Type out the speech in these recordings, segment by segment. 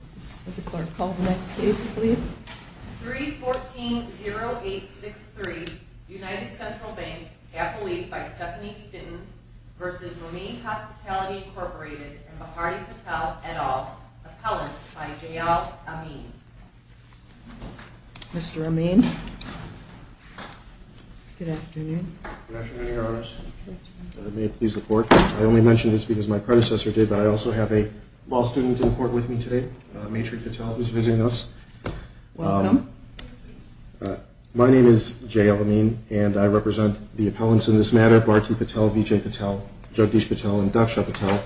314-0863 United Central Bank, Appellee by Stephanie Stitten v. Monee Hospitality, Inc. Mahadi Patel, et al. Appellant by J.L. Amin. Mr. Amin. Good afternoon. Good afternoon, Your Honors. May it please the Court. I only mention this because my predecessor did, but I also have a law student in court with me today. Maytree Patel is visiting us. Welcome. My name is J.L. Amin, and I represent the appellants in this matter, Bharti Patel, Vijay Patel, Jagdish Patel, and Daksha Patel,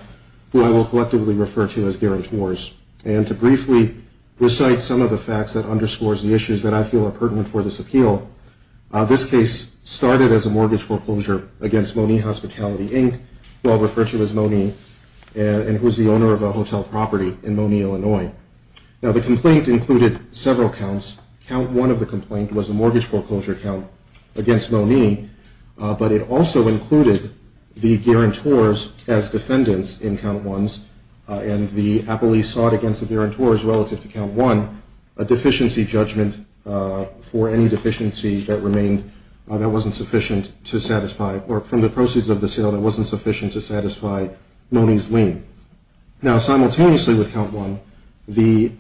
who I will collectively refer to as guarantors. And to briefly recite some of the facts that underscores the issues that I feel are pertinent for this appeal, this case started as a mortgage foreclosure against Monee Hospitality, Inc., who I'll refer to as Monee, and who is the owner of a hotel property in Monee, Illinois. Now, the complaint included several counts. Count one of the complaint was a mortgage foreclosure count against Monee, but it also included the guarantors as defendants in count ones, and the appellees sought against the guarantors relative to count one a deficiency judgment for any deficiency that remained that wasn't sufficient to satisfy, or from the proceeds of the sale that wasn't sufficient to satisfy Monee's lien. Now, simultaneously with count one, the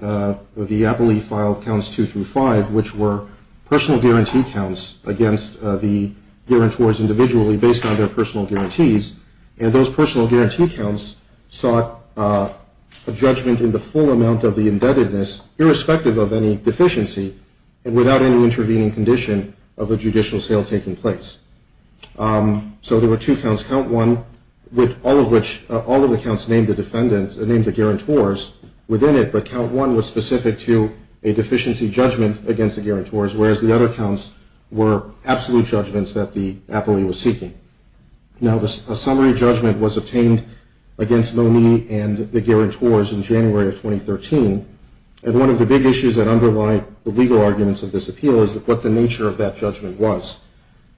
appellee filed counts two through five, which were personal guarantee counts against the guarantors individually based on their personal guarantees, and those personal guarantee counts sought a judgment in the full amount of the indebtedness, irrespective of any deficiency, and without any intervening condition of a judicial sale taking place. So there were two counts, count one with all of the counts named the guarantors within it, but count one was specific to a deficiency judgment against the guarantors, whereas the other counts were absolute judgments that the appellee was seeking. Now, a summary judgment was obtained against Monee and the guarantors in January of 2013, and one of the big issues that underlie the legal arguments of this appeal is what the nature of that judgment was.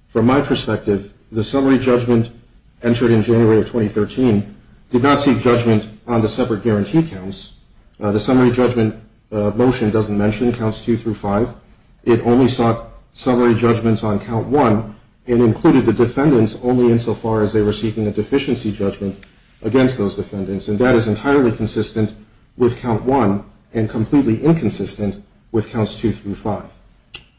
From my perspective, the summary judgment entered in January of 2013 did not seek judgment on the separate guarantee counts. The summary judgment motion doesn't mention counts two through five. It only sought summary judgments on count one, and included the defendants only insofar as they were seeking a deficiency judgment against those defendants, and that is entirely consistent with count one and completely inconsistent with counts two through five.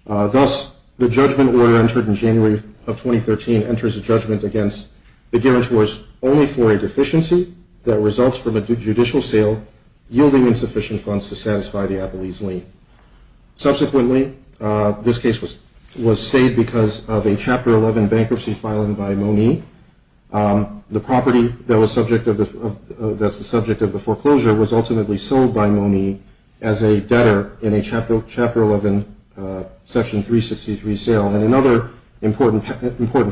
Thus, the judgment order entered in January of 2013 enters a judgment against the guarantors only for a deficiency that results from a judicial sale yielding insufficient funds to satisfy the appellee's lien. Subsequently, this case was stayed because of a Chapter 11 bankruptcy filing by Monee. The property that's the subject of the foreclosure was ultimately sold by Monee as a debtor in a Chapter 11 Section 363 sale, and another important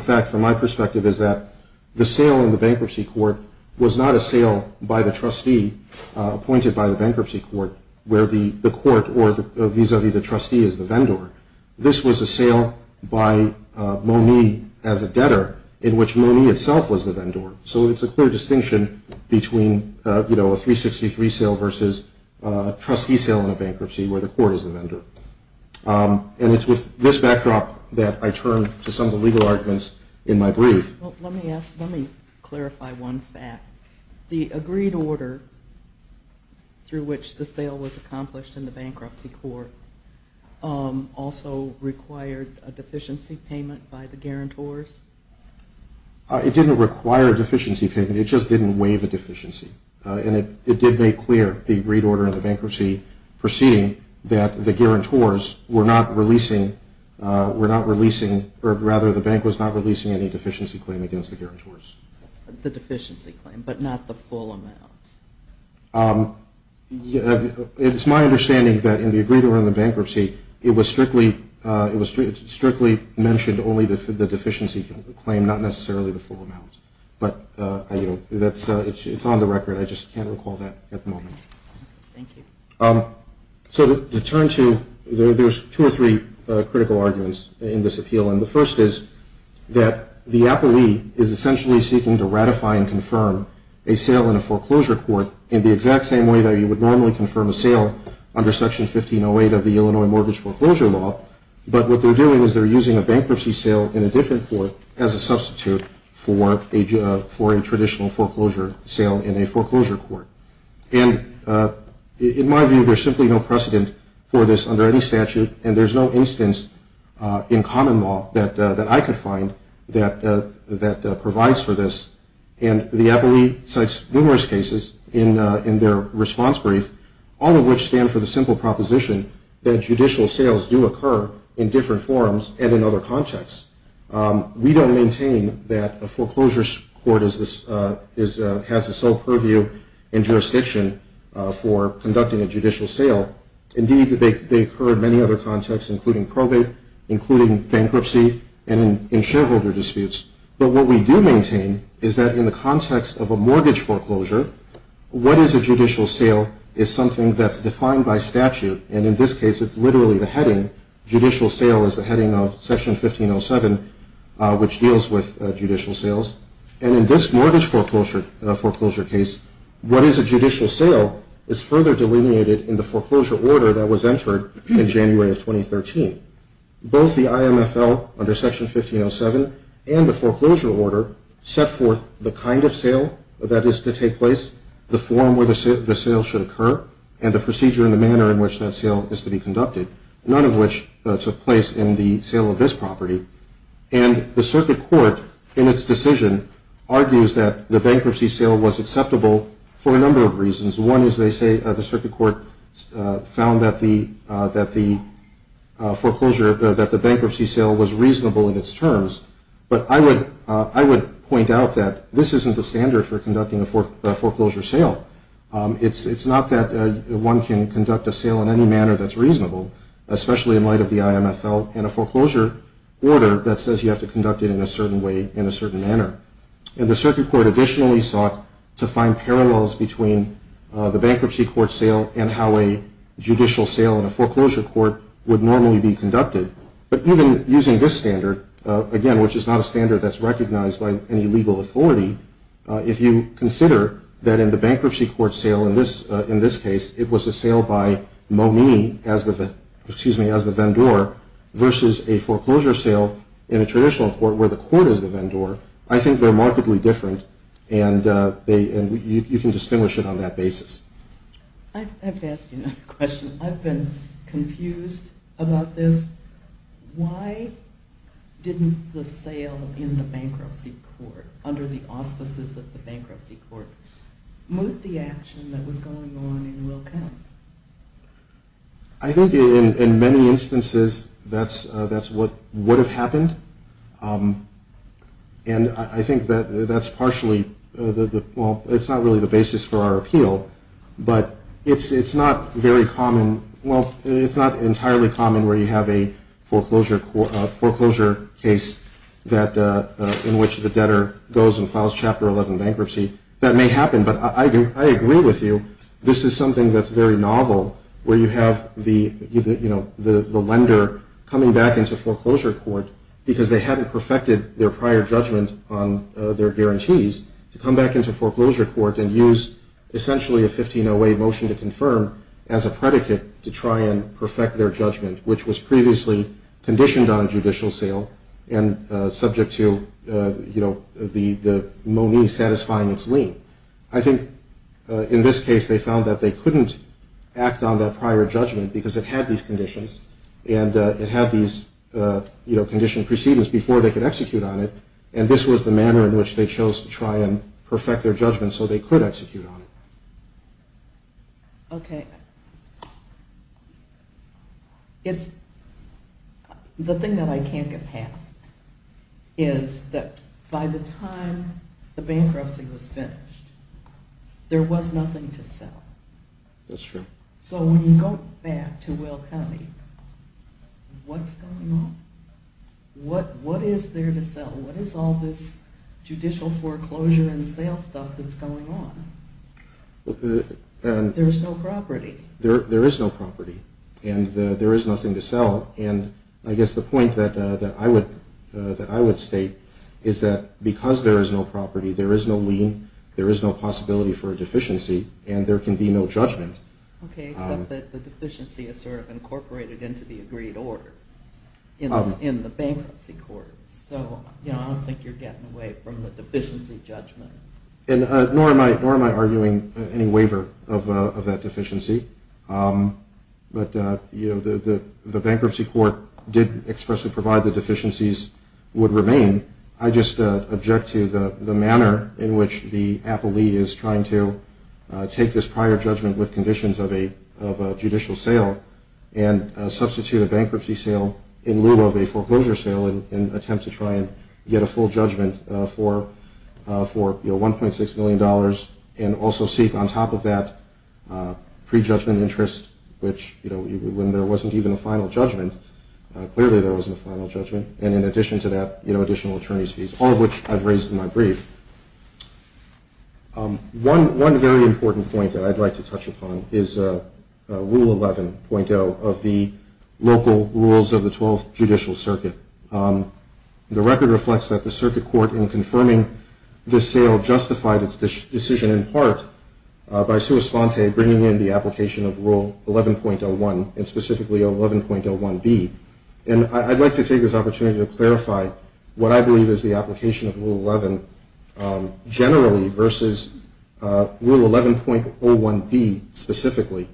fact from my perspective is that the sale in the bankruptcy court was not a sale by the trustee appointed by the bankruptcy court where the court or vis-a-vis the trustee is the vendor. This was a sale by Monee as a debtor in which Monee itself was the vendor. So it's a clear distinction between, you know, a 363 sale versus a trustee sale in a bankruptcy where the court is the vendor. And it's with this backdrop that I turn to some of the legal arguments in my brief. Let me ask, let me clarify one fact. The agreed order through which the sale was accomplished in the bankruptcy court also required a deficiency payment by the guarantors? It didn't require a deficiency payment. It just didn't waive a deficiency. And it did make clear the agreed order in the bankruptcy proceeding that the guarantors were not releasing, were not releasing, or rather the bank was not releasing any deficiency claim against the guarantors. The deficiency claim, but not the full amount? It's my understanding that in the agreed order in the bankruptcy, it was strictly mentioned only the deficiency claim, not necessarily the full amount. But, you know, it's on the record. I just can't recall that at the moment. Thank you. So to turn to, there's two or three critical arguments in this appeal. And the first is that the appellee is essentially seeking to ratify and confirm a sale in a foreclosure court in the exact same way that you would normally confirm a sale under Section 1508 of the Illinois Mortgage Foreclosure Law. But what they're doing is they're using a bankruptcy sale in a different court as a substitute for a traditional foreclosure sale in a foreclosure court. And in my view, there's simply no precedent for this under any statute, and there's no instance in common law that I could find that provides for this. And the appellee cites numerous cases in their response brief, all of which stand for the simple proposition that judicial sales do occur in different forms and in other contexts. We don't maintain that a foreclosure court has its own purview and jurisdiction for conducting a judicial sale. Indeed, they occur in many other contexts, including probate, including bankruptcy, and in shareholder disputes. But what we do maintain is that in the context of a mortgage foreclosure, what is a judicial sale is something that's defined by statute. And in this case, it's literally the heading. Section 1507, which deals with judicial sales. And in this mortgage foreclosure case, what is a judicial sale is further delineated in the foreclosure order that was entered in January of 2013. Both the IMFL under Section 1507 and the foreclosure order set forth the kind of sale that is to take place, the form where the sale should occur, and the procedure and the manner in which that sale is to be conducted, none of which took place in the sale of this property. And the circuit court, in its decision, argues that the bankruptcy sale was acceptable for a number of reasons. One is they say the circuit court found that the bankruptcy sale was reasonable in its terms. But I would point out that this isn't the standard for conducting a foreclosure sale. It's not that one can conduct a sale in any manner that's reasonable, especially in light of the IMFL and a foreclosure order that says you have to conduct it in a certain way, in a certain manner. And the circuit court additionally sought to find parallels between the bankruptcy court sale and how a judicial sale in a foreclosure court would normally be conducted. But even using this standard, again, which is not a standard that's recognized by any legal authority, if you consider that in the bankruptcy court sale, in this case, it was a sale by Momee as the vendor versus a foreclosure sale in a traditional court where the court is the vendor, I think they're markedly different. And you can distinguish it on that basis. I have to ask you another question. I've been confused about this. Why didn't the sale in the bankruptcy court under the auspices of the bankruptcy court moot the action that was going on in Wilco? I think in many instances that's what would have happened. And I think that that's partially the – well, it's not really the basis for our appeal. But it's not very common – foreclosure case in which the debtor goes and files Chapter 11 bankruptcy. That may happen. But I agree with you. This is something that's very novel where you have the lender coming back into foreclosure court because they hadn't perfected their prior judgment on their guarantees to come back into foreclosure court and use essentially a 1508 motion to confirm as a predicate to try and perfect their judgment, which was previously conditioned on judicial sale and subject to the money satisfying its lien. I think in this case they found that they couldn't act on that prior judgment because it had these conditions and it had these conditioned precedents before they could execute on it. And this was the manner in which they chose to try and perfect their judgment so they could execute on it. Okay. It's – the thing that I can't get past is that by the time the bankruptcy was finished, there was nothing to sell. That's true. So when you go back to Will County, what's going on? What is there to sell? What is all this judicial foreclosure and sale stuff that's going on? There's no property. There is no property, and there is nothing to sell. And I guess the point that I would state is that because there is no property, there is no lien, there is no possibility for a deficiency, and there can be no judgment. Okay, except that the deficiency is sort of incorporated into the agreed order in the bankruptcy court. So I don't think you're getting away from the deficiency judgment. Nor am I arguing any waiver of that deficiency. But the bankruptcy court did expressly provide the deficiencies would remain. I just object to the manner in which the appellee is trying to take this prior judgment with conditions of a judicial sale and substitute a bankruptcy sale in lieu of a foreclosure sale and attempt to try and get a full judgment for, you know, $1.6 million and also seek on top of that prejudgment interest, which, you know, when there wasn't even a final judgment, clearly there wasn't a final judgment, and in addition to that, you know, additional attorney's fees, all of which I've raised in my brief. One very important point that I'd like to touch upon is Rule 11.0 of the local rules of the Twelfth Judicial Circuit. The record reflects that the circuit court in confirming the sale justified its decision in part by sua sponte bringing in the application of Rule 11.01 and specifically 11.01B. And I'd like to take this opportunity to clarify what I believe is the application of Rule 11 generally versus Rule 11.01B specifically.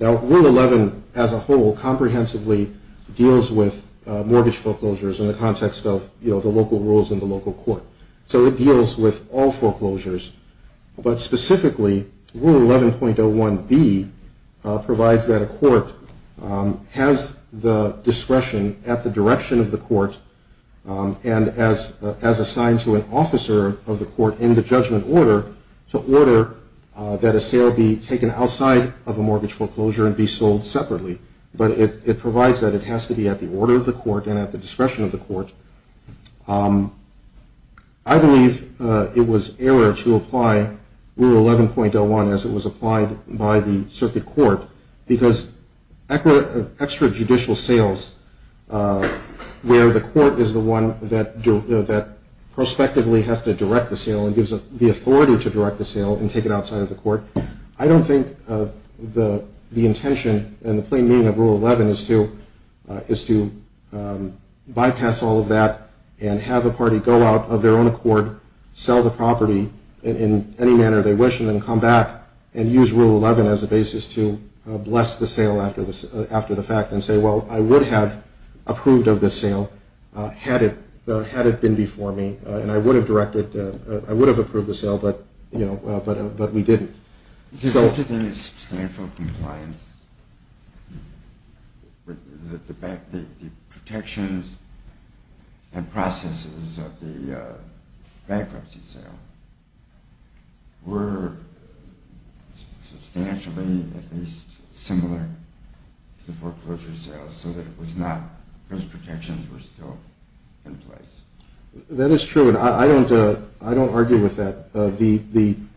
Now, Rule 11 as a whole comprehensively deals with mortgage foreclosures in the context of, you know, the local rules in the local court. So it deals with all foreclosures, but specifically Rule 11.01B provides that a court has the discretion at the direction of the court and as assigned to an officer of the court in the judgment order to order that a sale be taken outside of a mortgage foreclosure and be sold separately. But it provides that it has to be at the order of the court and at the discretion of the court. I believe it was error to apply Rule 11.01 as it was applied by the circuit court, because extrajudicial sales where the court is the one that prospectively has to direct the sale and gives the authority to direct the sale and take it outside of the court, I don't think the intention and the plain meaning of Rule 11 is to bypass all of that and have a party go out of their own accord, sell the property in any manner they wish, and then come back and use Rule 11 as a basis to bless the sale after the fact and say, well, I would have approved of this sale had it been before me, and I would have directed, I would have approved the sale, but, you know, but we didn't. It resulted in a substantial compliance with the protections and processes of the bankruptcy sale were substantially, at least, similar to the foreclosure sale, so that it was not, those protections were still in place. That is true, and I don't argue with that.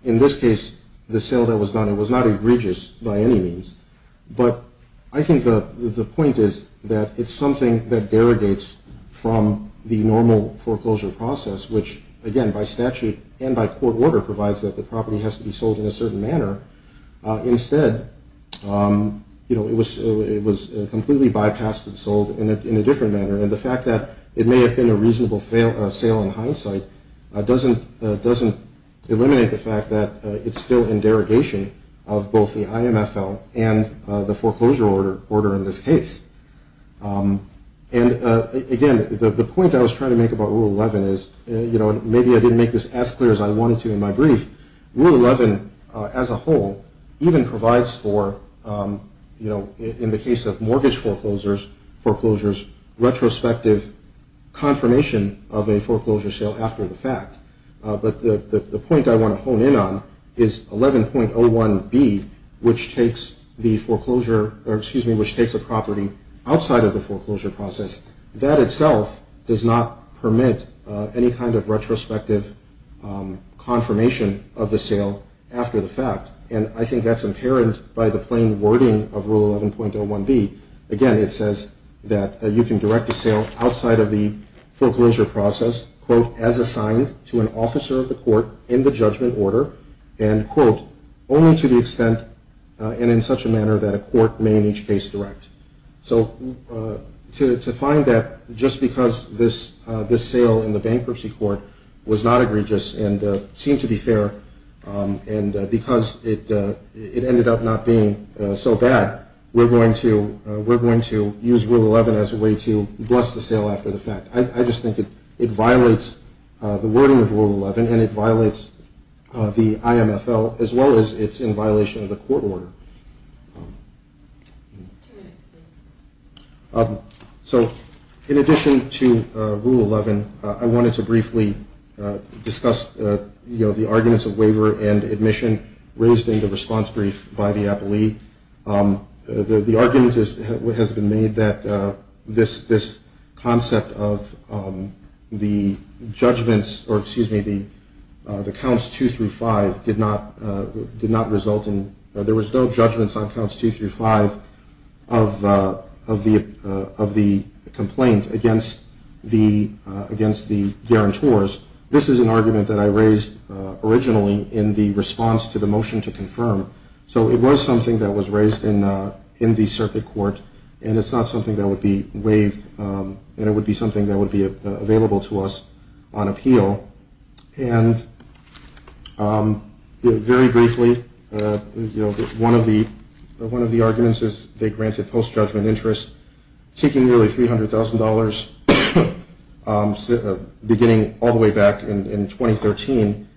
In this case, the sale that was done, it was not egregious by any means, but I think the point is that it's something that derogates from the normal foreclosure process, which, again, by statute and by court order provides that the property has to be sold in a certain manner. Instead, you know, it was completely bypassed and sold in a different manner, and the fact that it may have been a reasonable sale in hindsight doesn't eliminate the fact that it's still in derogation of both the IMFL and the foreclosure order in this case. And, again, the point I was trying to make about Rule 11 is, you know, maybe I didn't make this as clear as I wanted to in my brief. Rule 11, as a whole, even provides for, you know, in the case of mortgage foreclosures, retrospective confirmation of a foreclosure sale after the fact. But the point I want to hone in on is 11.01B, which takes the foreclosure, or excuse me, which takes a property outside of the foreclosure process. That itself does not permit any kind of retrospective confirmation of the sale after the fact, and I think that's inherent by the plain wording of Rule 11.01B. Again, it says that you can direct a sale outside of the foreclosure process, quote, as assigned to an officer of the court in the judgment order, and, quote, only to the extent and in such a manner that a court may in each case direct. So to find that just because this sale in the bankruptcy court was not egregious and seemed to be fair and because it ended up not being so bad, we're going to use Rule 11 as a way to bless the sale after the fact. I just think it violates the wording of Rule 11, and it violates the IMFL, as well as it's in violation of the court order. Two minutes, please. So in addition to Rule 11, I wanted to briefly discuss, you know, the arguments of waiver and admission raised in the response brief by the appellee. The argument has been made that this concept of the judgments, or excuse me, the counts 2 through 5 did not result in or there was no judgments on counts 2 through 5 of the complaint against the guarantors. This is an argument that I raised originally in the response to the motion to confirm. So it was something that was raised in the circuit court, and it's not something that would be waived, and it would be something that would be available to us on appeal. And very briefly, you know, one of the arguments is they granted post-judgment interest, seeking nearly $300,000 beginning all the way back in 2013.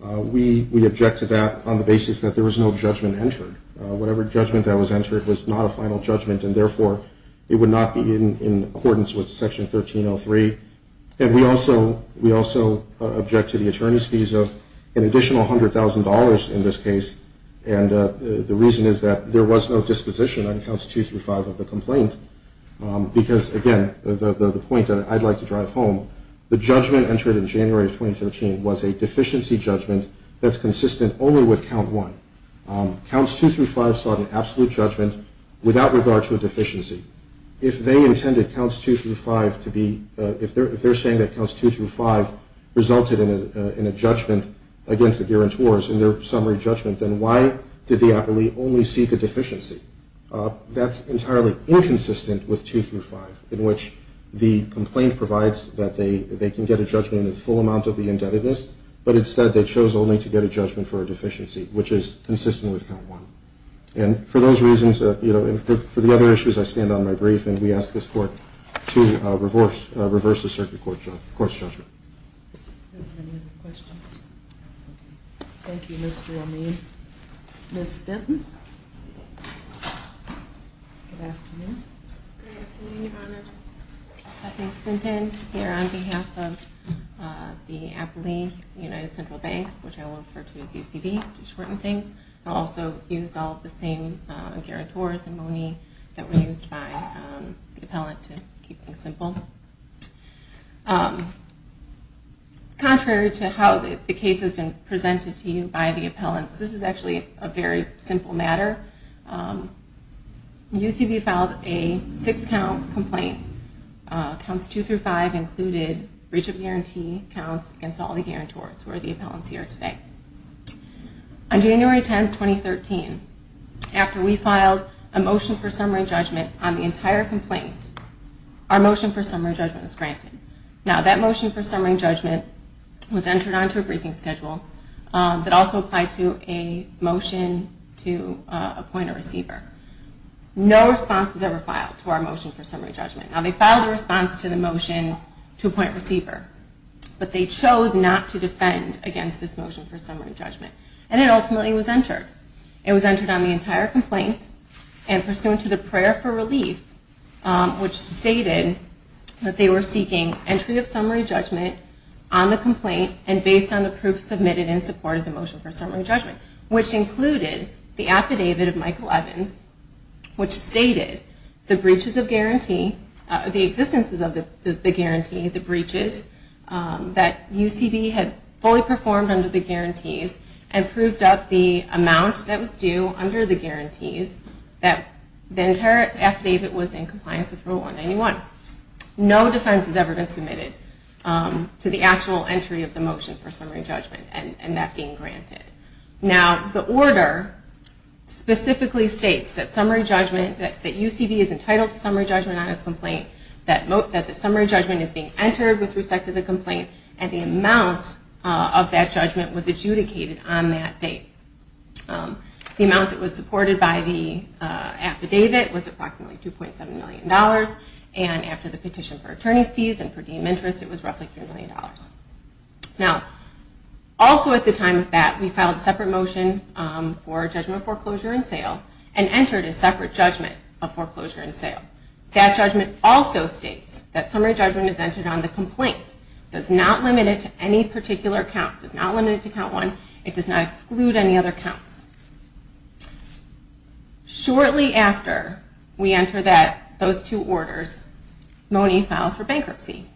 We objected that on the basis that there was no judgment entered. Whatever judgment that was entered was not a final judgment, and therefore it would not be in accordance with Section 1303. And we also object to the attorney's fees of an additional $100,000 in this case, and the reason is that there was no disposition on counts 2 through 5 of the complaint, because, again, the point that I'd like to drive home, the judgment entered in January of 2013 was a deficiency judgment that's consistent only with count 1. Counts 2 through 5 sought an absolute judgment without regard to a deficiency. If they intended counts 2 through 5 to be, if they're saying that counts 2 through 5 resulted in a judgment against the guarantors in their summary judgment, then why did the appellee only seek a deficiency? That's entirely inconsistent with 2 through 5, in which the complaint provides that they can get a judgment in the full amount of the indebtedness, but instead they chose only to get a judgment for a deficiency, which is consistent with count 1. And for those reasons, you know, and for the other issues, I stand on my brief, and we ask this Court to reverse the circuit court's judgment. Are there any other questions? Thank you, Mr. Amin. Ms. Stinton? Good afternoon. Good afternoon, Your Honors. My name is Stephanie Stinton, here on behalf of the Appellee United Central Bank, which I will refer to as UCB to shorten things. I'll also use all of the same guarantors and monies that were used by the appellant to keep things simple. Contrary to how the case has been presented to you by the appellants, this is actually a very simple matter. UCB filed a six-count complaint. Counts 2 through 5 included breach of guarantee counts against all the guarantors, who are the appellants here today. On January 10, 2013, after we filed a motion for summary judgment on the entire complaint, our motion for summary judgment was granted. Now, that motion for summary judgment was entered onto a briefing schedule that also applied to a motion to appoint a receiver. No response was ever filed to our motion for summary judgment. Now, they filed a response to the motion to appoint a receiver, but they chose not to defend against this motion for summary judgment. And it ultimately was entered. It was entered on the entire complaint and pursuant to the prayer for relief, which stated that they were seeking entry of summary judgment on the complaint and based on the proof submitted in support of the motion for summary judgment, which included the affidavit of Michael Evans, which stated the breaches of guarantee, the existences of the guarantee, the breaches that UCB had fully performed under the guarantees and proved up the amount that was due under the guarantees that the entire affidavit was in compliance with Rule 191. No defense has ever been submitted to the actual entry of the motion for summary judgment and that being granted. Now, the order specifically states that UCB is entitled to summary judgment on its complaint, that the summary judgment is being entered with respect to the complaint and the amount of that judgment was adjudicated on that date. The amount that was supported by the affidavit was approximately $2.7 million and after the petition for attorney's fees and per diem interest, it was roughly $3 million. Now, also at the time of that, we filed a separate motion for judgment foreclosure and sale and entered a separate judgment of foreclosure and sale. That judgment also states that summary judgment is entered on the complaint, does not limit it to any particular count, does not limit it to count one, it does not exclude any other counts. Shortly after we enter those two orders, Mone files for bankruptcy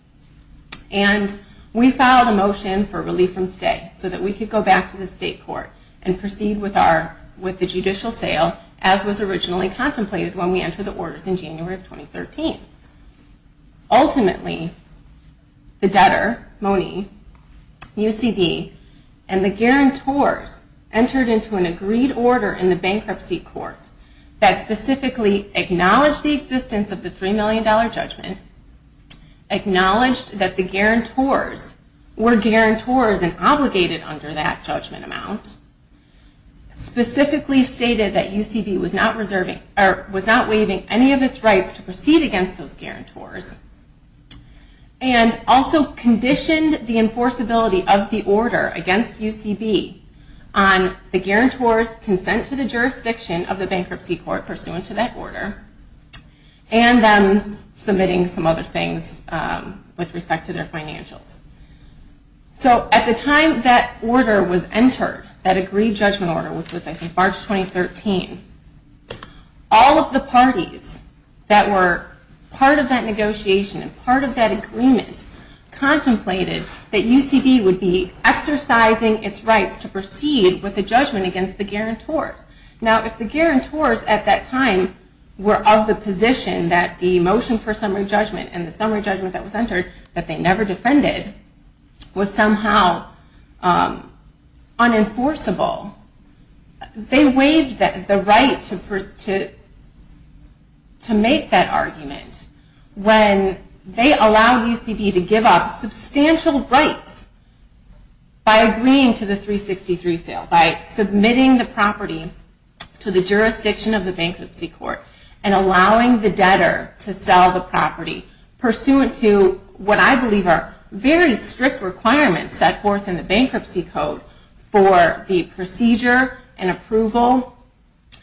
and we filed a motion for relief from stay so that we could go back to the state court and proceed with the judicial sale as was originally contemplated when we entered the orders in January of 2013. Ultimately, the debtor, Mone, UCB, and the guarantors entered into an agreed order in the bankruptcy court that specifically acknowledged the existence of the $3 million judgment, acknowledged that the guarantors were guarantors and obligated under that judgment amount, specifically stated that UCB was not waiving any of its rights to proceed against those guarantors, and also conditioned the enforceability of the order against UCB on the guarantors' consent to the jurisdiction of the bankruptcy court pursuant to that order and them submitting some other things with respect to their financials. So at the time that order was entered, that agreed judgment order, which was I think March 2013, all of the parties that were part of that negotiation and part of that agreement contemplated that UCB would be exercising its rights to proceed with a judgment against the guarantors. Now if the guarantors at that time were of the position that the motion for summary judgment and the summary judgment that was entered that they never defended was somehow unenforceable, they waived the right to make that argument when they allowed UCB to give up substantial rights by agreeing to the 363 sale, by submitting the property to the jurisdiction of the bankruptcy court and allowing the debtor to sell the property pursuant to what I believe are very strict requirements set forth in the bankruptcy code for the procedure and approval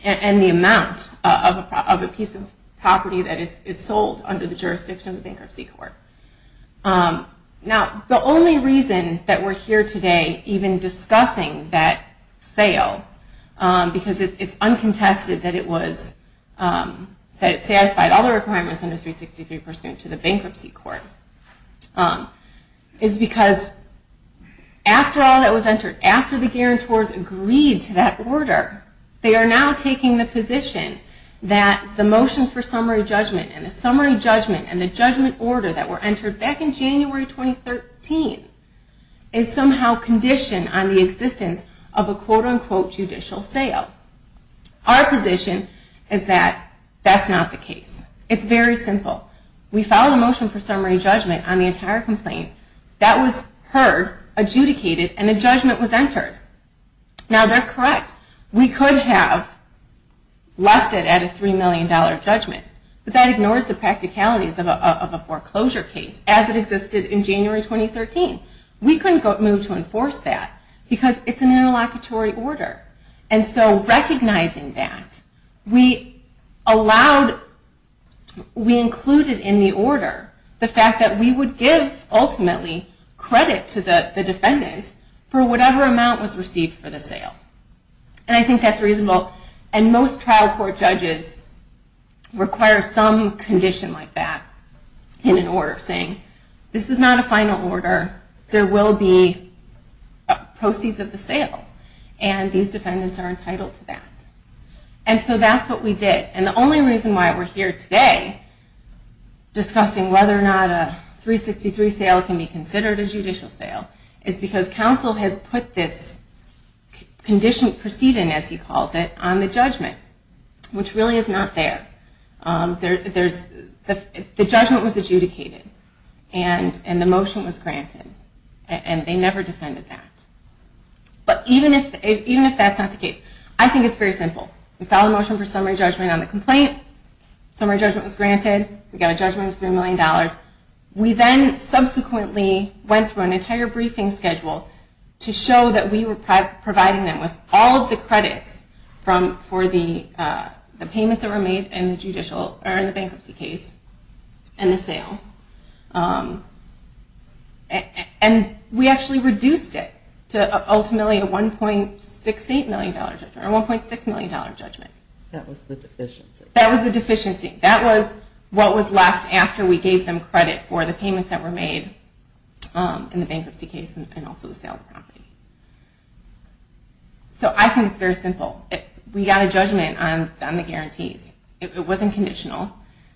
and the amount of a piece of property that is sold under the jurisdiction of the bankruptcy court. Now the only reason that we're here today even discussing that sale, because it's uncontested that it satisfied all the requirements under 363 pursuant to the bankruptcy court, is because after all that was entered, after the guarantors agreed to that order, they are now taking the position that the motion for summary judgment and the summary judgment and the judgment order that were entered back in January 2013 is somehow conditioned on the existence of a quote unquote judicial sale. Our position is that that's not the case. It's very simple. We filed a motion for summary judgment on the entire complaint. That was heard, adjudicated, and a judgment was entered. Now they're correct. We could have left it at a $3 million judgment, but that ignores the practicalities of a foreclosure case as it existed in January 2013. We couldn't move to enforce that because it's an interlocutory order. Recognizing that, we included in the order the fact that we would give, ultimately, credit to the defendants for whatever amount was received for the sale. I think that's reasonable. Most trial court judges require some condition like that in an order, saying this is not a final order. There will be proceeds of the sale. These defendants are entitled to that. That's what we did. The only reason why we're here today discussing whether or not a 363 sale can be considered a judicial sale is because counsel has put this condition, proceeding as he calls it, on the judgment, which really is not there. The judgment was adjudicated and the motion was granted, and they never defended that. But even if that's not the case, I think it's very simple. We filed a motion for summary judgment on the complaint. Summary judgment was granted. We got a judgment of $3 million. We then subsequently went through an entire briefing schedule to show that we were providing them with all of the credits for the payments that were made in the bankruptcy case and the sale. And we actually reduced it to ultimately a $1.6 million judgment. That was the deficiency. That was the deficiency. That was what was left after we gave them credit for the payments that were made in the bankruptcy case and also the sale of the property. So I think it's very simple. We got a judgment on the guarantees. It wasn't conditional.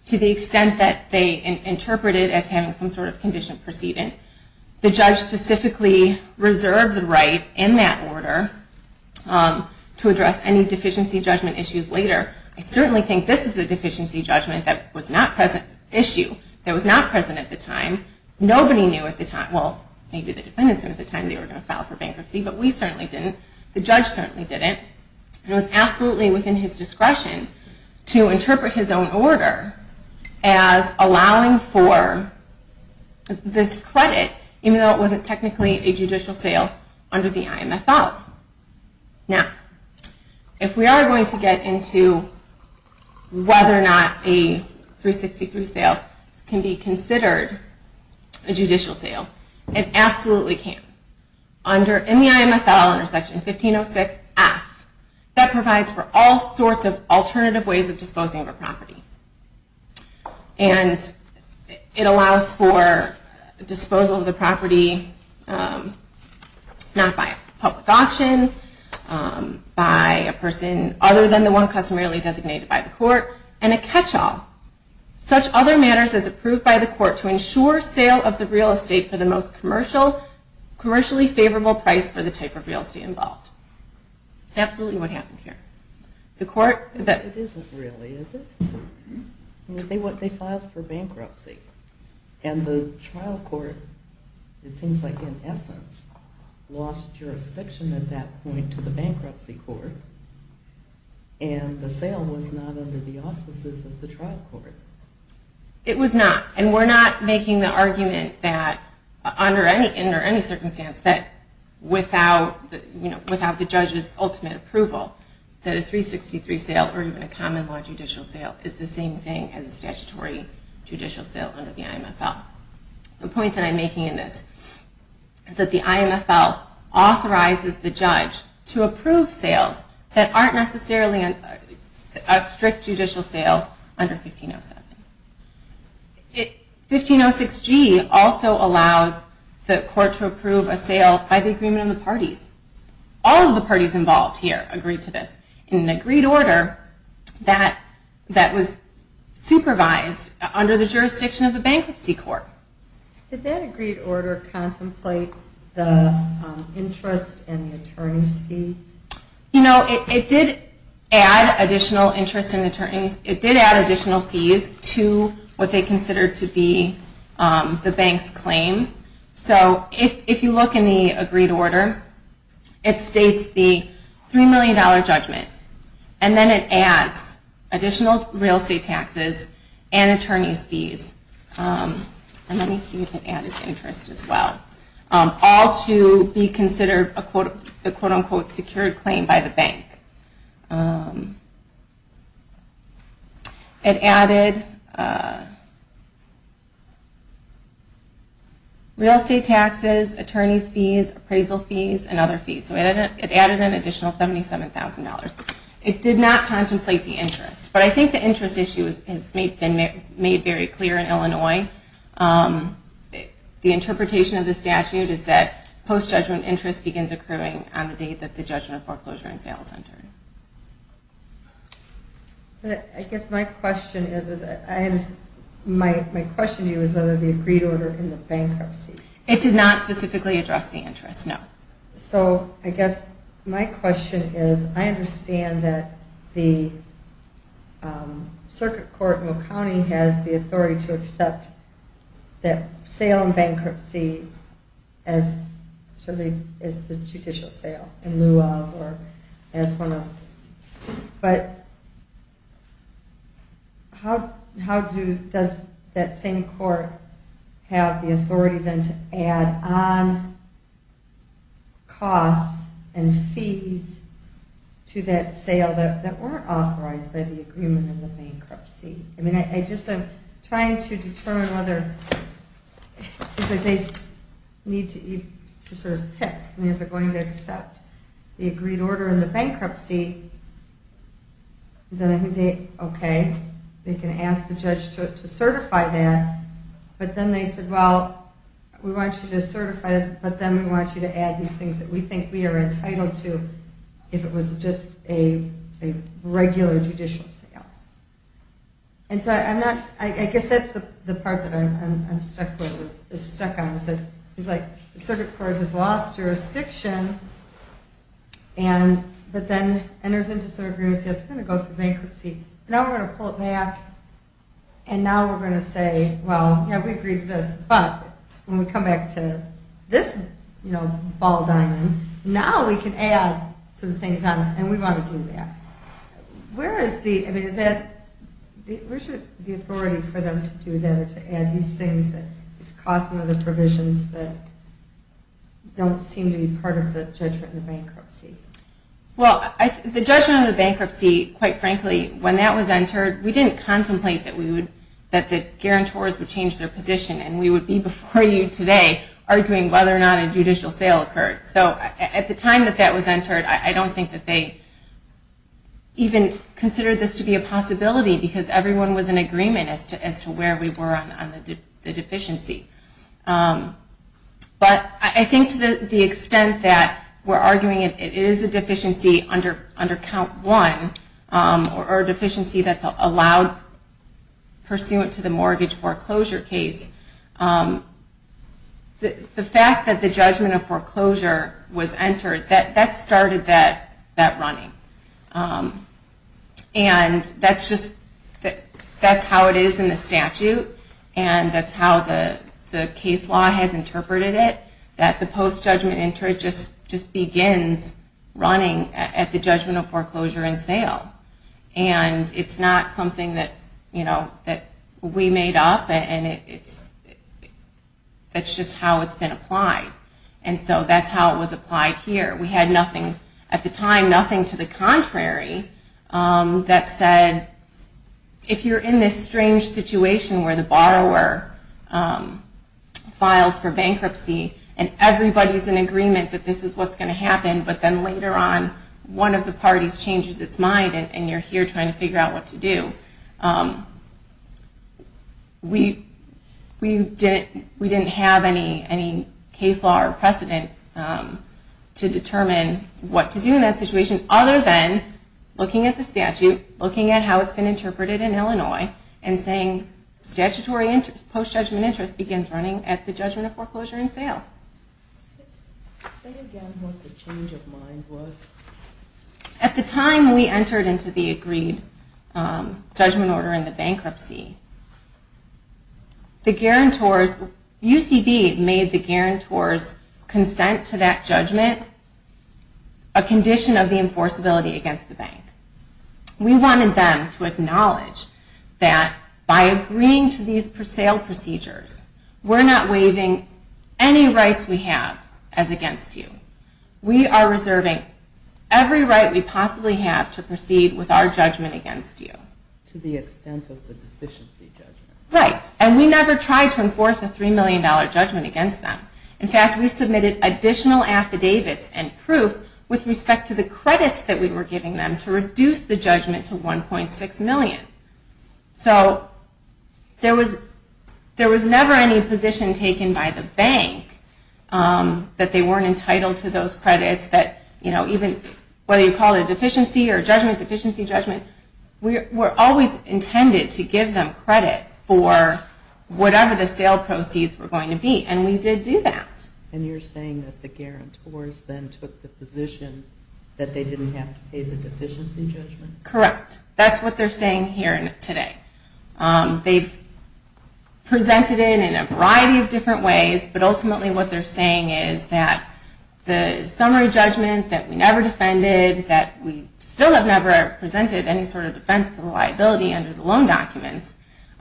To the extent that they interpreted it as having some sort of condition proceeding, the judge specifically reserved the right in that order to address any deficiency judgment issues later. I certainly think this is a deficiency judgment issue that was not present at the time. Nobody knew at the time. Well, maybe the defendants knew at the time they were going to file for bankruptcy, but we certainly didn't. The judge certainly didn't. It was absolutely within his discretion to interpret his own order as allowing for this credit even though it wasn't technically a judicial sale under the IMFL. Now, if we are going to get into whether or not a 363 sale can be considered a judicial sale, it absolutely can. In the IMFL under Section 1506-F, that provides for all sorts of alternative ways of disposing of a property. And it allows for disposal of the property not by public auction, by a person other than the one customarily designated by the court, and a catch-all. Such other matters as approved by the court to ensure sale of the real estate for the most commercially favorable price for the type of real estate involved. It's absolutely what happened here. It isn't really, is it? They filed for bankruptcy, and the trial court, it seems like, in essence, lost jurisdiction at that point to the bankruptcy court, and the sale was not under the auspices of the trial court. It was not. And we're not making the argument that, under any circumstance, that without the judge's ultimate approval, that a 363 sale, or even a common law judicial sale, is the same thing as a statutory judicial sale under the IMFL. The point that I'm making in this is that the IMFL authorizes the judge to approve sales that aren't necessarily a strict judicial sale under 1507. 1506G also allows the court to approve a sale by the agreement of the parties. All of the parties involved here agreed to this in an agreed order that was supervised under the jurisdiction of the bankruptcy court. Did that agreed order contemplate the interest and the attorney's fees? It did add additional fees to what they considered to be the bank's claim. So if you look in the agreed order, it states the $3 million judgment, and then it adds additional real estate taxes and attorney's fees. And let me see if it added interest as well. All to be considered a quote-unquote secured claim by the bank. It added real estate taxes, attorney's fees, appraisal fees, and other fees. So it added an additional $77,000. It did not contemplate the interest, but I think the interest issue has been made very clear in Illinois. The interpretation of the statute is that post-judgment interest begins occurring on the date that the judgment of foreclosure and sale is entered. I guess my question to you is whether the agreed order in the bankruptcy. It did not specifically address the interest, no. So I guess my question is I understand that the circuit court in Will County has the authority to accept that sale and bankruptcy as the judicial sale in lieu of or as one of. But how does that same court have the authority then to add on costs and fees to that sale that weren't authorized by the agreement in the bankruptcy? I just am trying to determine whether they need to sort of pick and if they're going to accept the agreed order in the bankruptcy. Okay, they can ask the judge to certify that. But then they said, well, we want you to certify this, but then we want you to add these things that we think we are entitled to if it was just a regular judicial sale. I guess that's the part that I'm stuck on. It's like the circuit court has lost jurisdiction, but then enters into some agreements, yes, we're going to go through bankruptcy. Now we're going to pull it back, and now we're going to say, well, yeah, we agreed to this, but when we come back to this ball diamond, now we can add some things on it, and we want to do that. Where is the authority for them to do that, to add these things that cost some of the provisions that don't seem to be part of the judgment of bankruptcy? Well, the judgment of the bankruptcy, quite frankly, when that was entered, we didn't contemplate that the guarantors would change their position, and we would be before you today arguing whether or not a judicial sale occurred. So at the time that that was entered, I don't think that they even considered this to be a possibility because everyone was in agreement as to where we were on the deficiency. But I think to the extent that we're arguing it is a deficiency under Count 1, or a deficiency that's allowed pursuant to the mortgage foreclosure case, the fact that the judgment of foreclosure was entered, that started that running. And that's just how it is in the statute, and that's how the case law has interpreted it, that the post-judgment interest just begins running at the judgment of foreclosure and sale. And it's not something that we made up, and that's just how it's been applied. And so that's how it was applied here. We had nothing at the time, nothing to the contrary, that said if you're in this strange situation where the borrower files for bankruptcy, and everybody's in agreement that this is what's going to happen, but then later on one of the parties changes its mind, and you're here trying to figure out what to do. We didn't have any case law or precedent to determine what to do in that situation, other than looking at the statute, looking at how it's been interpreted in Illinois, and saying statutory post-judgment interest begins running at the judgment of foreclosure and sale. Say again what the change of mind was. At the time we entered into the agreed judgment order in the bankruptcy, the guarantors, UCB made the guarantors consent to that judgment, a condition of the enforceability against the bank. We wanted them to acknowledge that by agreeing to these sale procedures, we're not waiving any rights we have as against you. We are reserving every right we possibly have to proceed with our judgment against you. To the extent of the deficiency judgment. Right, and we never tried to enforce a $3 million judgment against them. In fact, we submitted additional affidavits and proof with respect to the credits that we were giving them to reduce the judgment to $1.6 million. So there was never any position taken by the bank that they weren't entitled to those credits, that even whether you call it a deficiency or judgment, deficiency judgment, we're always intended to give them credit for whatever the sale proceeds were going to be, and we did do that. And you're saying that the guarantors then took the position that they didn't have to pay the deficiency judgment? Correct. That's what they're saying here today. They've presented it in a variety of different ways, but ultimately what they're saying is that the summary judgment that we never defended, that we still have never presented any sort of defense to the liability under the loan documents,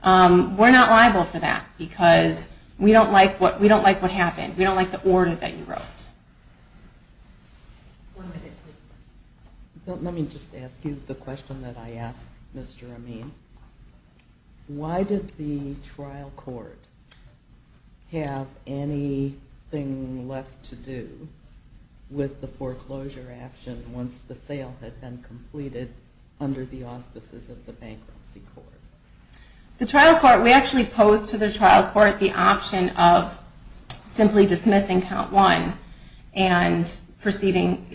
we're not liable for that because we don't like what happened. We don't like the order that you wrote. One minute, please. Let me just ask you the question that I asked Mr. Amin. Why did the trial court have anything left to do with the foreclosure action once the sale had been completed under the auspices of the bankruptcy court? The trial court, we actually posed to the trial court the option of simply dismissing Count 1 and proceeding,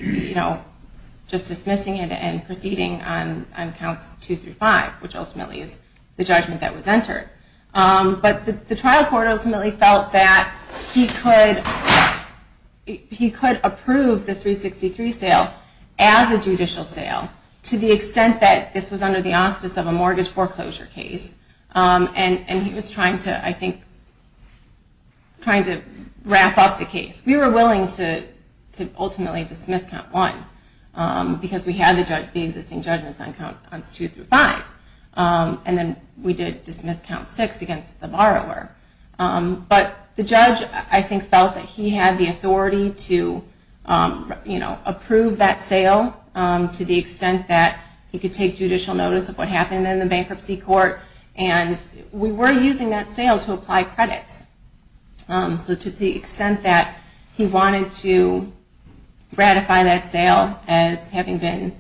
just dismissing it and proceeding on Counts 2 through 5, which ultimately is the judgment that was entered. But the trial court ultimately felt that he could approve the 363 sale as a judicial sale to the extent that this was under the auspices of a mortgage foreclosure case. And he was trying to wrap up the case. We were willing to ultimately dismiss Count 1 because we had the existing judgments on Counts 2 through 5. And then we did dismiss Count 6 against the borrower. We were willing to approve that sale to the extent that he could take judicial notice of what happened in the bankruptcy court. And we were using that sale to apply credits. So to the extent that he wanted to ratify that sale as having been,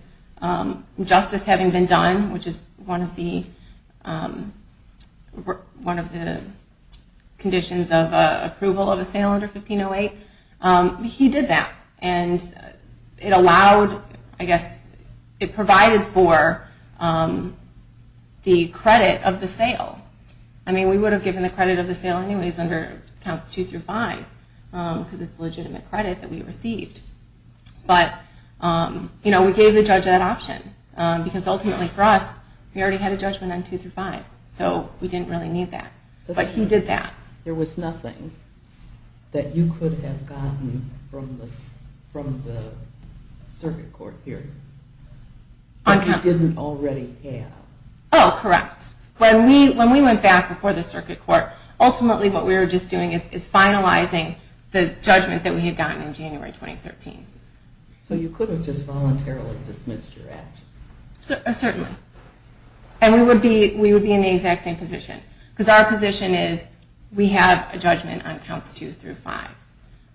justice having been done, which is one of the conditions of approval of a sale under 1508, he did that. And it allowed, I guess, it provided for the credit of the sale. I mean, we would have given the credit of the sale anyways under Counts 2 through 5 because it's legitimate credit that we received. But we gave the judge that option because ultimately for us, we already had a judgment on 2 through 5. So we didn't really need that. But he did that. There was nothing that you could have gotten from the circuit court here that you didn't already have. Oh, correct. When we went back before the circuit court, ultimately what we were just doing is finalizing the judgment that we had gotten in January 2013. So you could have just voluntarily dismissed your action. Certainly. And we would be in the exact same position because our position is we have a judgment on Counts 2 through 5.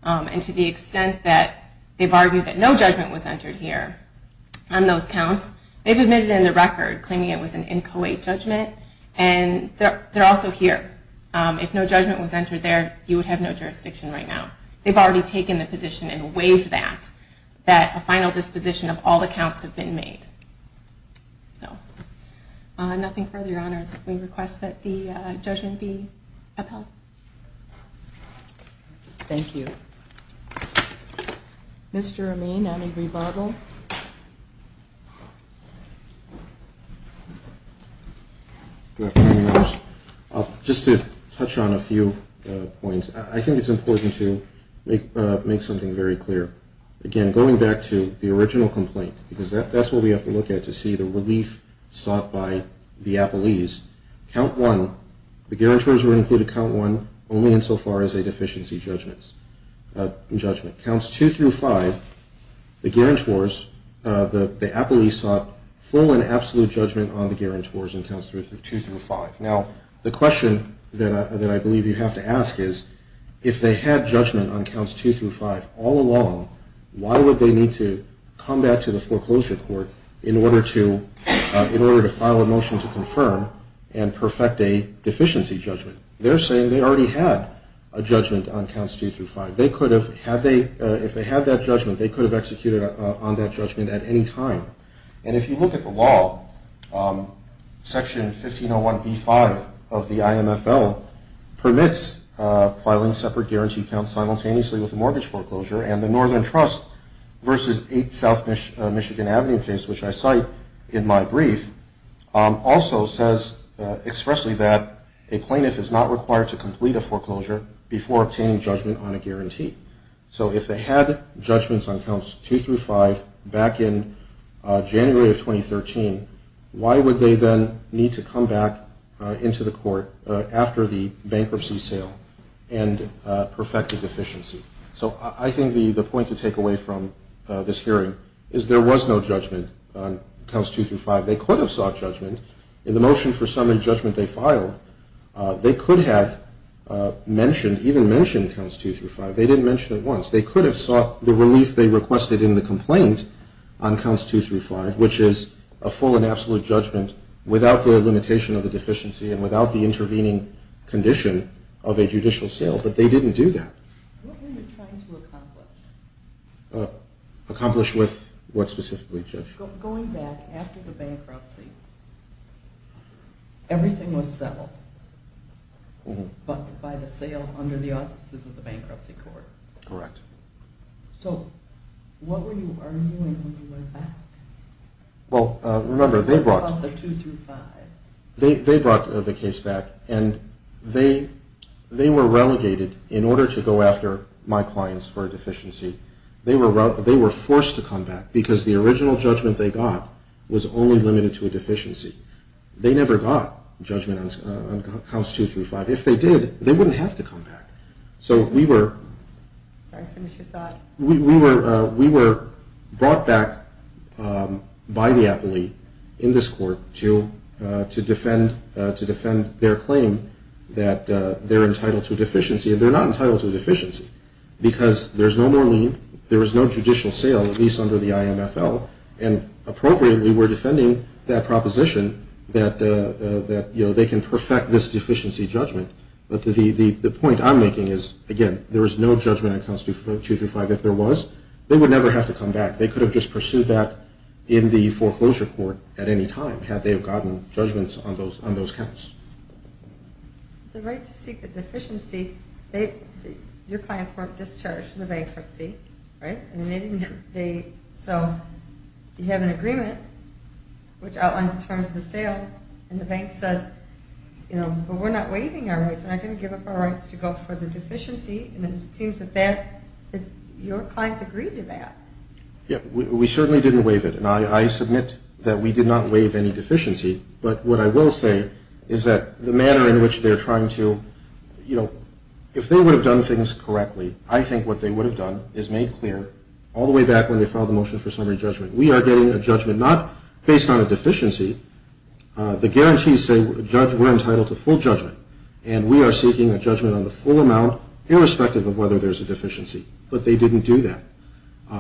And to the extent that they've argued that no judgment was entered here on those counts, they've admitted in the record claiming it was an inchoate judgment. And they're also here. If no judgment was entered there, you would have no jurisdiction right now. They've already taken the position and waived that, that a final disposition of all the counts have been made. So nothing further, Your Honors. We request that the judgment be upheld. Thank you. Mr. Amin, any rebuttal? Good afternoon, Your Honors. Just to touch on a few points. I think it's important to make something very clear. Again, going back to the original complaint, because that's what we have to look at to see the relief sought by the appellees. Count 1, the guarantors were included in Count 1 only insofar as a deficiency judgment. Counts 2 through 5, the guarantors, the appellees sought full and absolute judgment on the guarantors in Counts 2 through 5. Now, the question that I believe you have to ask is, if they had judgment on Counts 2 through 5 all along, why would they need to come back to the foreclosure court in order to file a motion to confirm and perfect a deficiency judgment? They're saying they already had a judgment on Counts 2 through 5. If they had that judgment, they could have executed on that judgment at any time. And if you look at the law, Section 1501b-5 of the IMFL permits filing separate guarantee counts simultaneously with a mortgage foreclosure, and the Northern Trust v. 8 South Michigan Avenue case, which I cite in my brief, also says expressly that a plaintiff is not required to complete a foreclosure before obtaining judgment on a guarantee. So if they had judgments on Counts 2 through 5 back in January of 2013, why would they then need to come back into the court after the bankruptcy sale and perfect a deficiency? So I think the point to take away from this hearing is there was no judgment on Counts 2 through 5. They could have sought judgment. In the motion for summary judgment they filed, they could have mentioned, even mentioned Counts 2 through 5. They didn't mention it once. They could have sought the relief they requested in the complaint on Counts 2 through 5, which is a full and absolute judgment without the limitation of the deficiency and without the intervening condition of a judicial sale. But they didn't do that. What were you trying to accomplish? Accomplish with what specifically, Judge? Going back, after the bankruptcy, everything was settled by the sale under the auspices of the bankruptcy court. Correct. So what were you arguing when you went back? Well, remember, they brought the case back and they were relegated in order to go after my clients for a deficiency. They were forced to come back because the original judgment they got was only limited to a deficiency. They never got judgment on Counts 2 through 5. If they did, they wouldn't have to come back. So we were brought back by the appellee in this court to defend their claim that they're entitled to a deficiency, and they're not entitled to a deficiency because there's no more lien, there is no judicial sale, at least under the IMFL, and appropriately we're defending that proposition that they can perfect this deficiency judgment. But the point I'm making is, again, there is no judgment on Counts 2 through 5. If there was, they would never have to come back. They could have just pursued that in the foreclosure court at any time had they gotten judgments on those counts. The right to seek a deficiency, your clients weren't discharged from the bankruptcy, right? So you have an agreement which outlines the terms of the sale and the bank says, you know, we're not waiving our rights, we're not going to give up our rights to go for the deficiency, and it seems that your clients agreed to that. Yeah, we certainly didn't waive it, and I submit that we did not waive any deficiency, but what I will say is that the manner in which they're trying to, you know, if they would have done things correctly, I think what they would have done is made clear all the way back when they filed the motion for summary judgment. We are getting a judgment not based on a deficiency. The guarantees say we're entitled to full judgment, and we are seeking a judgment on the full amount irrespective of whether there's a deficiency. But they didn't do that.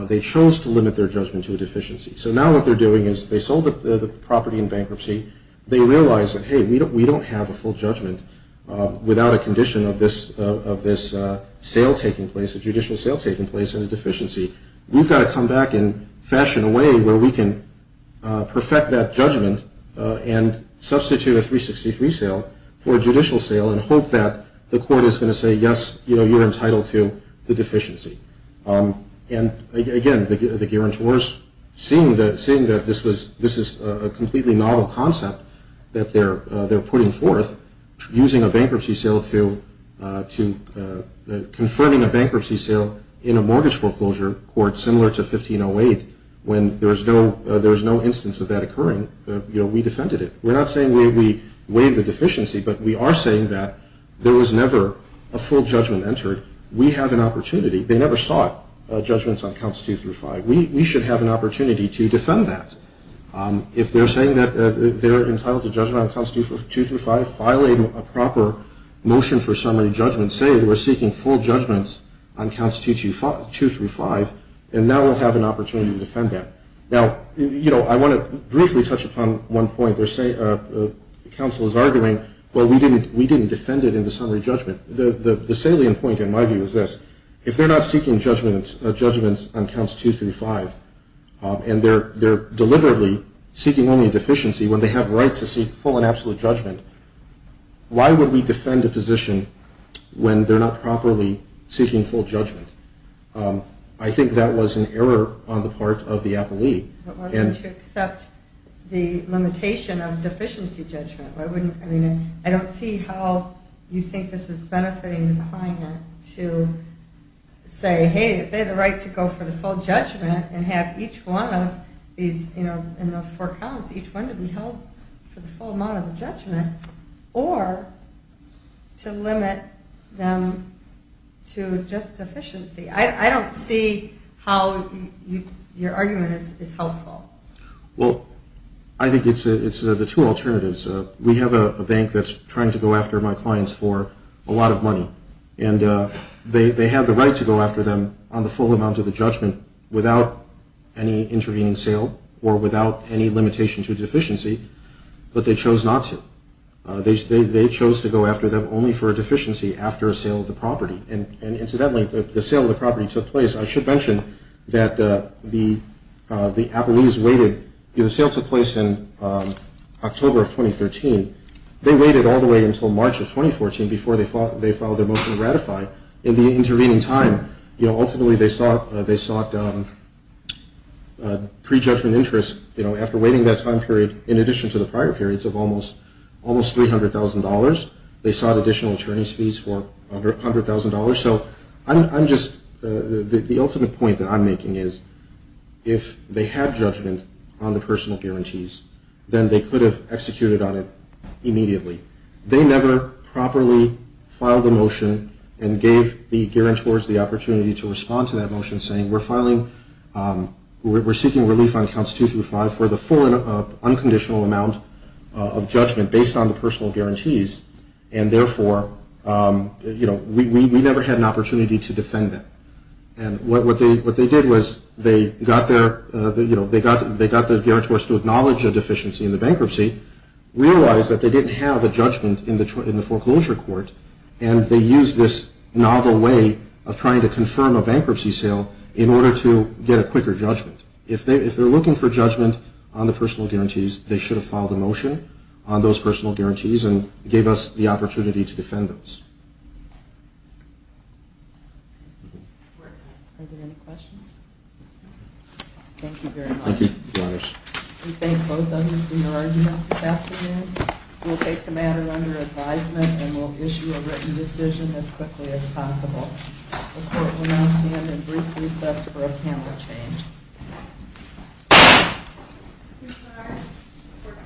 They chose to limit their judgment to a deficiency. So now what they're doing is they sold the property in bankruptcy. They realize that, hey, we don't have a full judgment without a condition of this sale taking place, a judicial sale taking place and a deficiency. We've got to come back and fashion a way where we can perfect that judgment and substitute a 363 sale for a judicial sale and hope that the court is going to say, yes, you know, you're entitled to the deficiency. And, again, the guarantors seeing that this is a completely novel concept that they're putting forth, using a bankruptcy sale to confirming a bankruptcy sale in a mortgage foreclosure court similar to 1508 when there's no instance of that occurring, you know, we defended it. We're not saying we waived the deficiency, but we are saying that there was never a full judgment entered. We have an opportunity. They never sought judgments on counts 2 through 5. We should have an opportunity to defend that. If they're saying that they're entitled to judgment on counts 2 through 5, violate a proper motion for summary judgment, say we're seeking full judgments on counts 2 through 5, and now we'll have an opportunity to defend that. Now, you know, I want to briefly touch upon one point. The counsel is arguing, well, we didn't defend it in the summary judgment. The salient point, in my view, is this. If they're not seeking judgments on counts 2 through 5 and they're deliberately seeking only a deficiency when they have a right to seek full and absolute judgment, why would we defend a position when they're not properly seeking full judgment? I think that was an error on the part of the appellee. Well, they should accept the limitation of deficiency judgment. I mean, I don't see how you think this is benefiting the client to say, hey, if they had the right to go for the full judgment and have each one of these in those four counts, each one to be held for the full amount of the judgment, or to limit them to just deficiency. I don't see how your argument is helpful. Well, I think it's the two alternatives. We have a bank that's trying to go after my clients for a lot of money, and they have the right to go after them on the full amount of the judgment without any intervening sale or without any limitation to deficiency, but they chose not to. They chose to go after them only for a deficiency after a sale of the property. And incidentally, the sale of the property took place. I should mention that the appellees waited. The sale took place in October of 2013. They waited all the way until March of 2014 before they filed their motion to ratify. In the intervening time, ultimately they sought pre-judgment interest. After waiting that time period, in addition to the prior periods of almost $300,000, they sought additional attorney's fees for under $100,000. So the ultimate point that I'm making is if they had judgment on the personal guarantees, then they could have executed on it immediately. They never properly filed a motion and gave the guarantors the opportunity to respond to that motion saying, we're seeking relief on counts two through five for the full unconditional amount of judgment based on the personal guarantees, and therefore we never had an opportunity to defend them. And what they did was they got the guarantors to acknowledge a deficiency in the bankruptcy, realized that they didn't have a judgment in the foreclosure court, and they used this novel way of trying to confirm a bankruptcy sale in order to get a quicker judgment. If they're looking for judgment on the personal guarantees, they should have filed a motion on those personal guarantees and gave us the opportunity to defend those. Are there any questions? Thank you very much. Thank you. We thank both of you for your arguments this afternoon. We'll take the matter under advisement and we'll issue a written decision as quickly as possible. The court will now stand in brief recess for a panel change.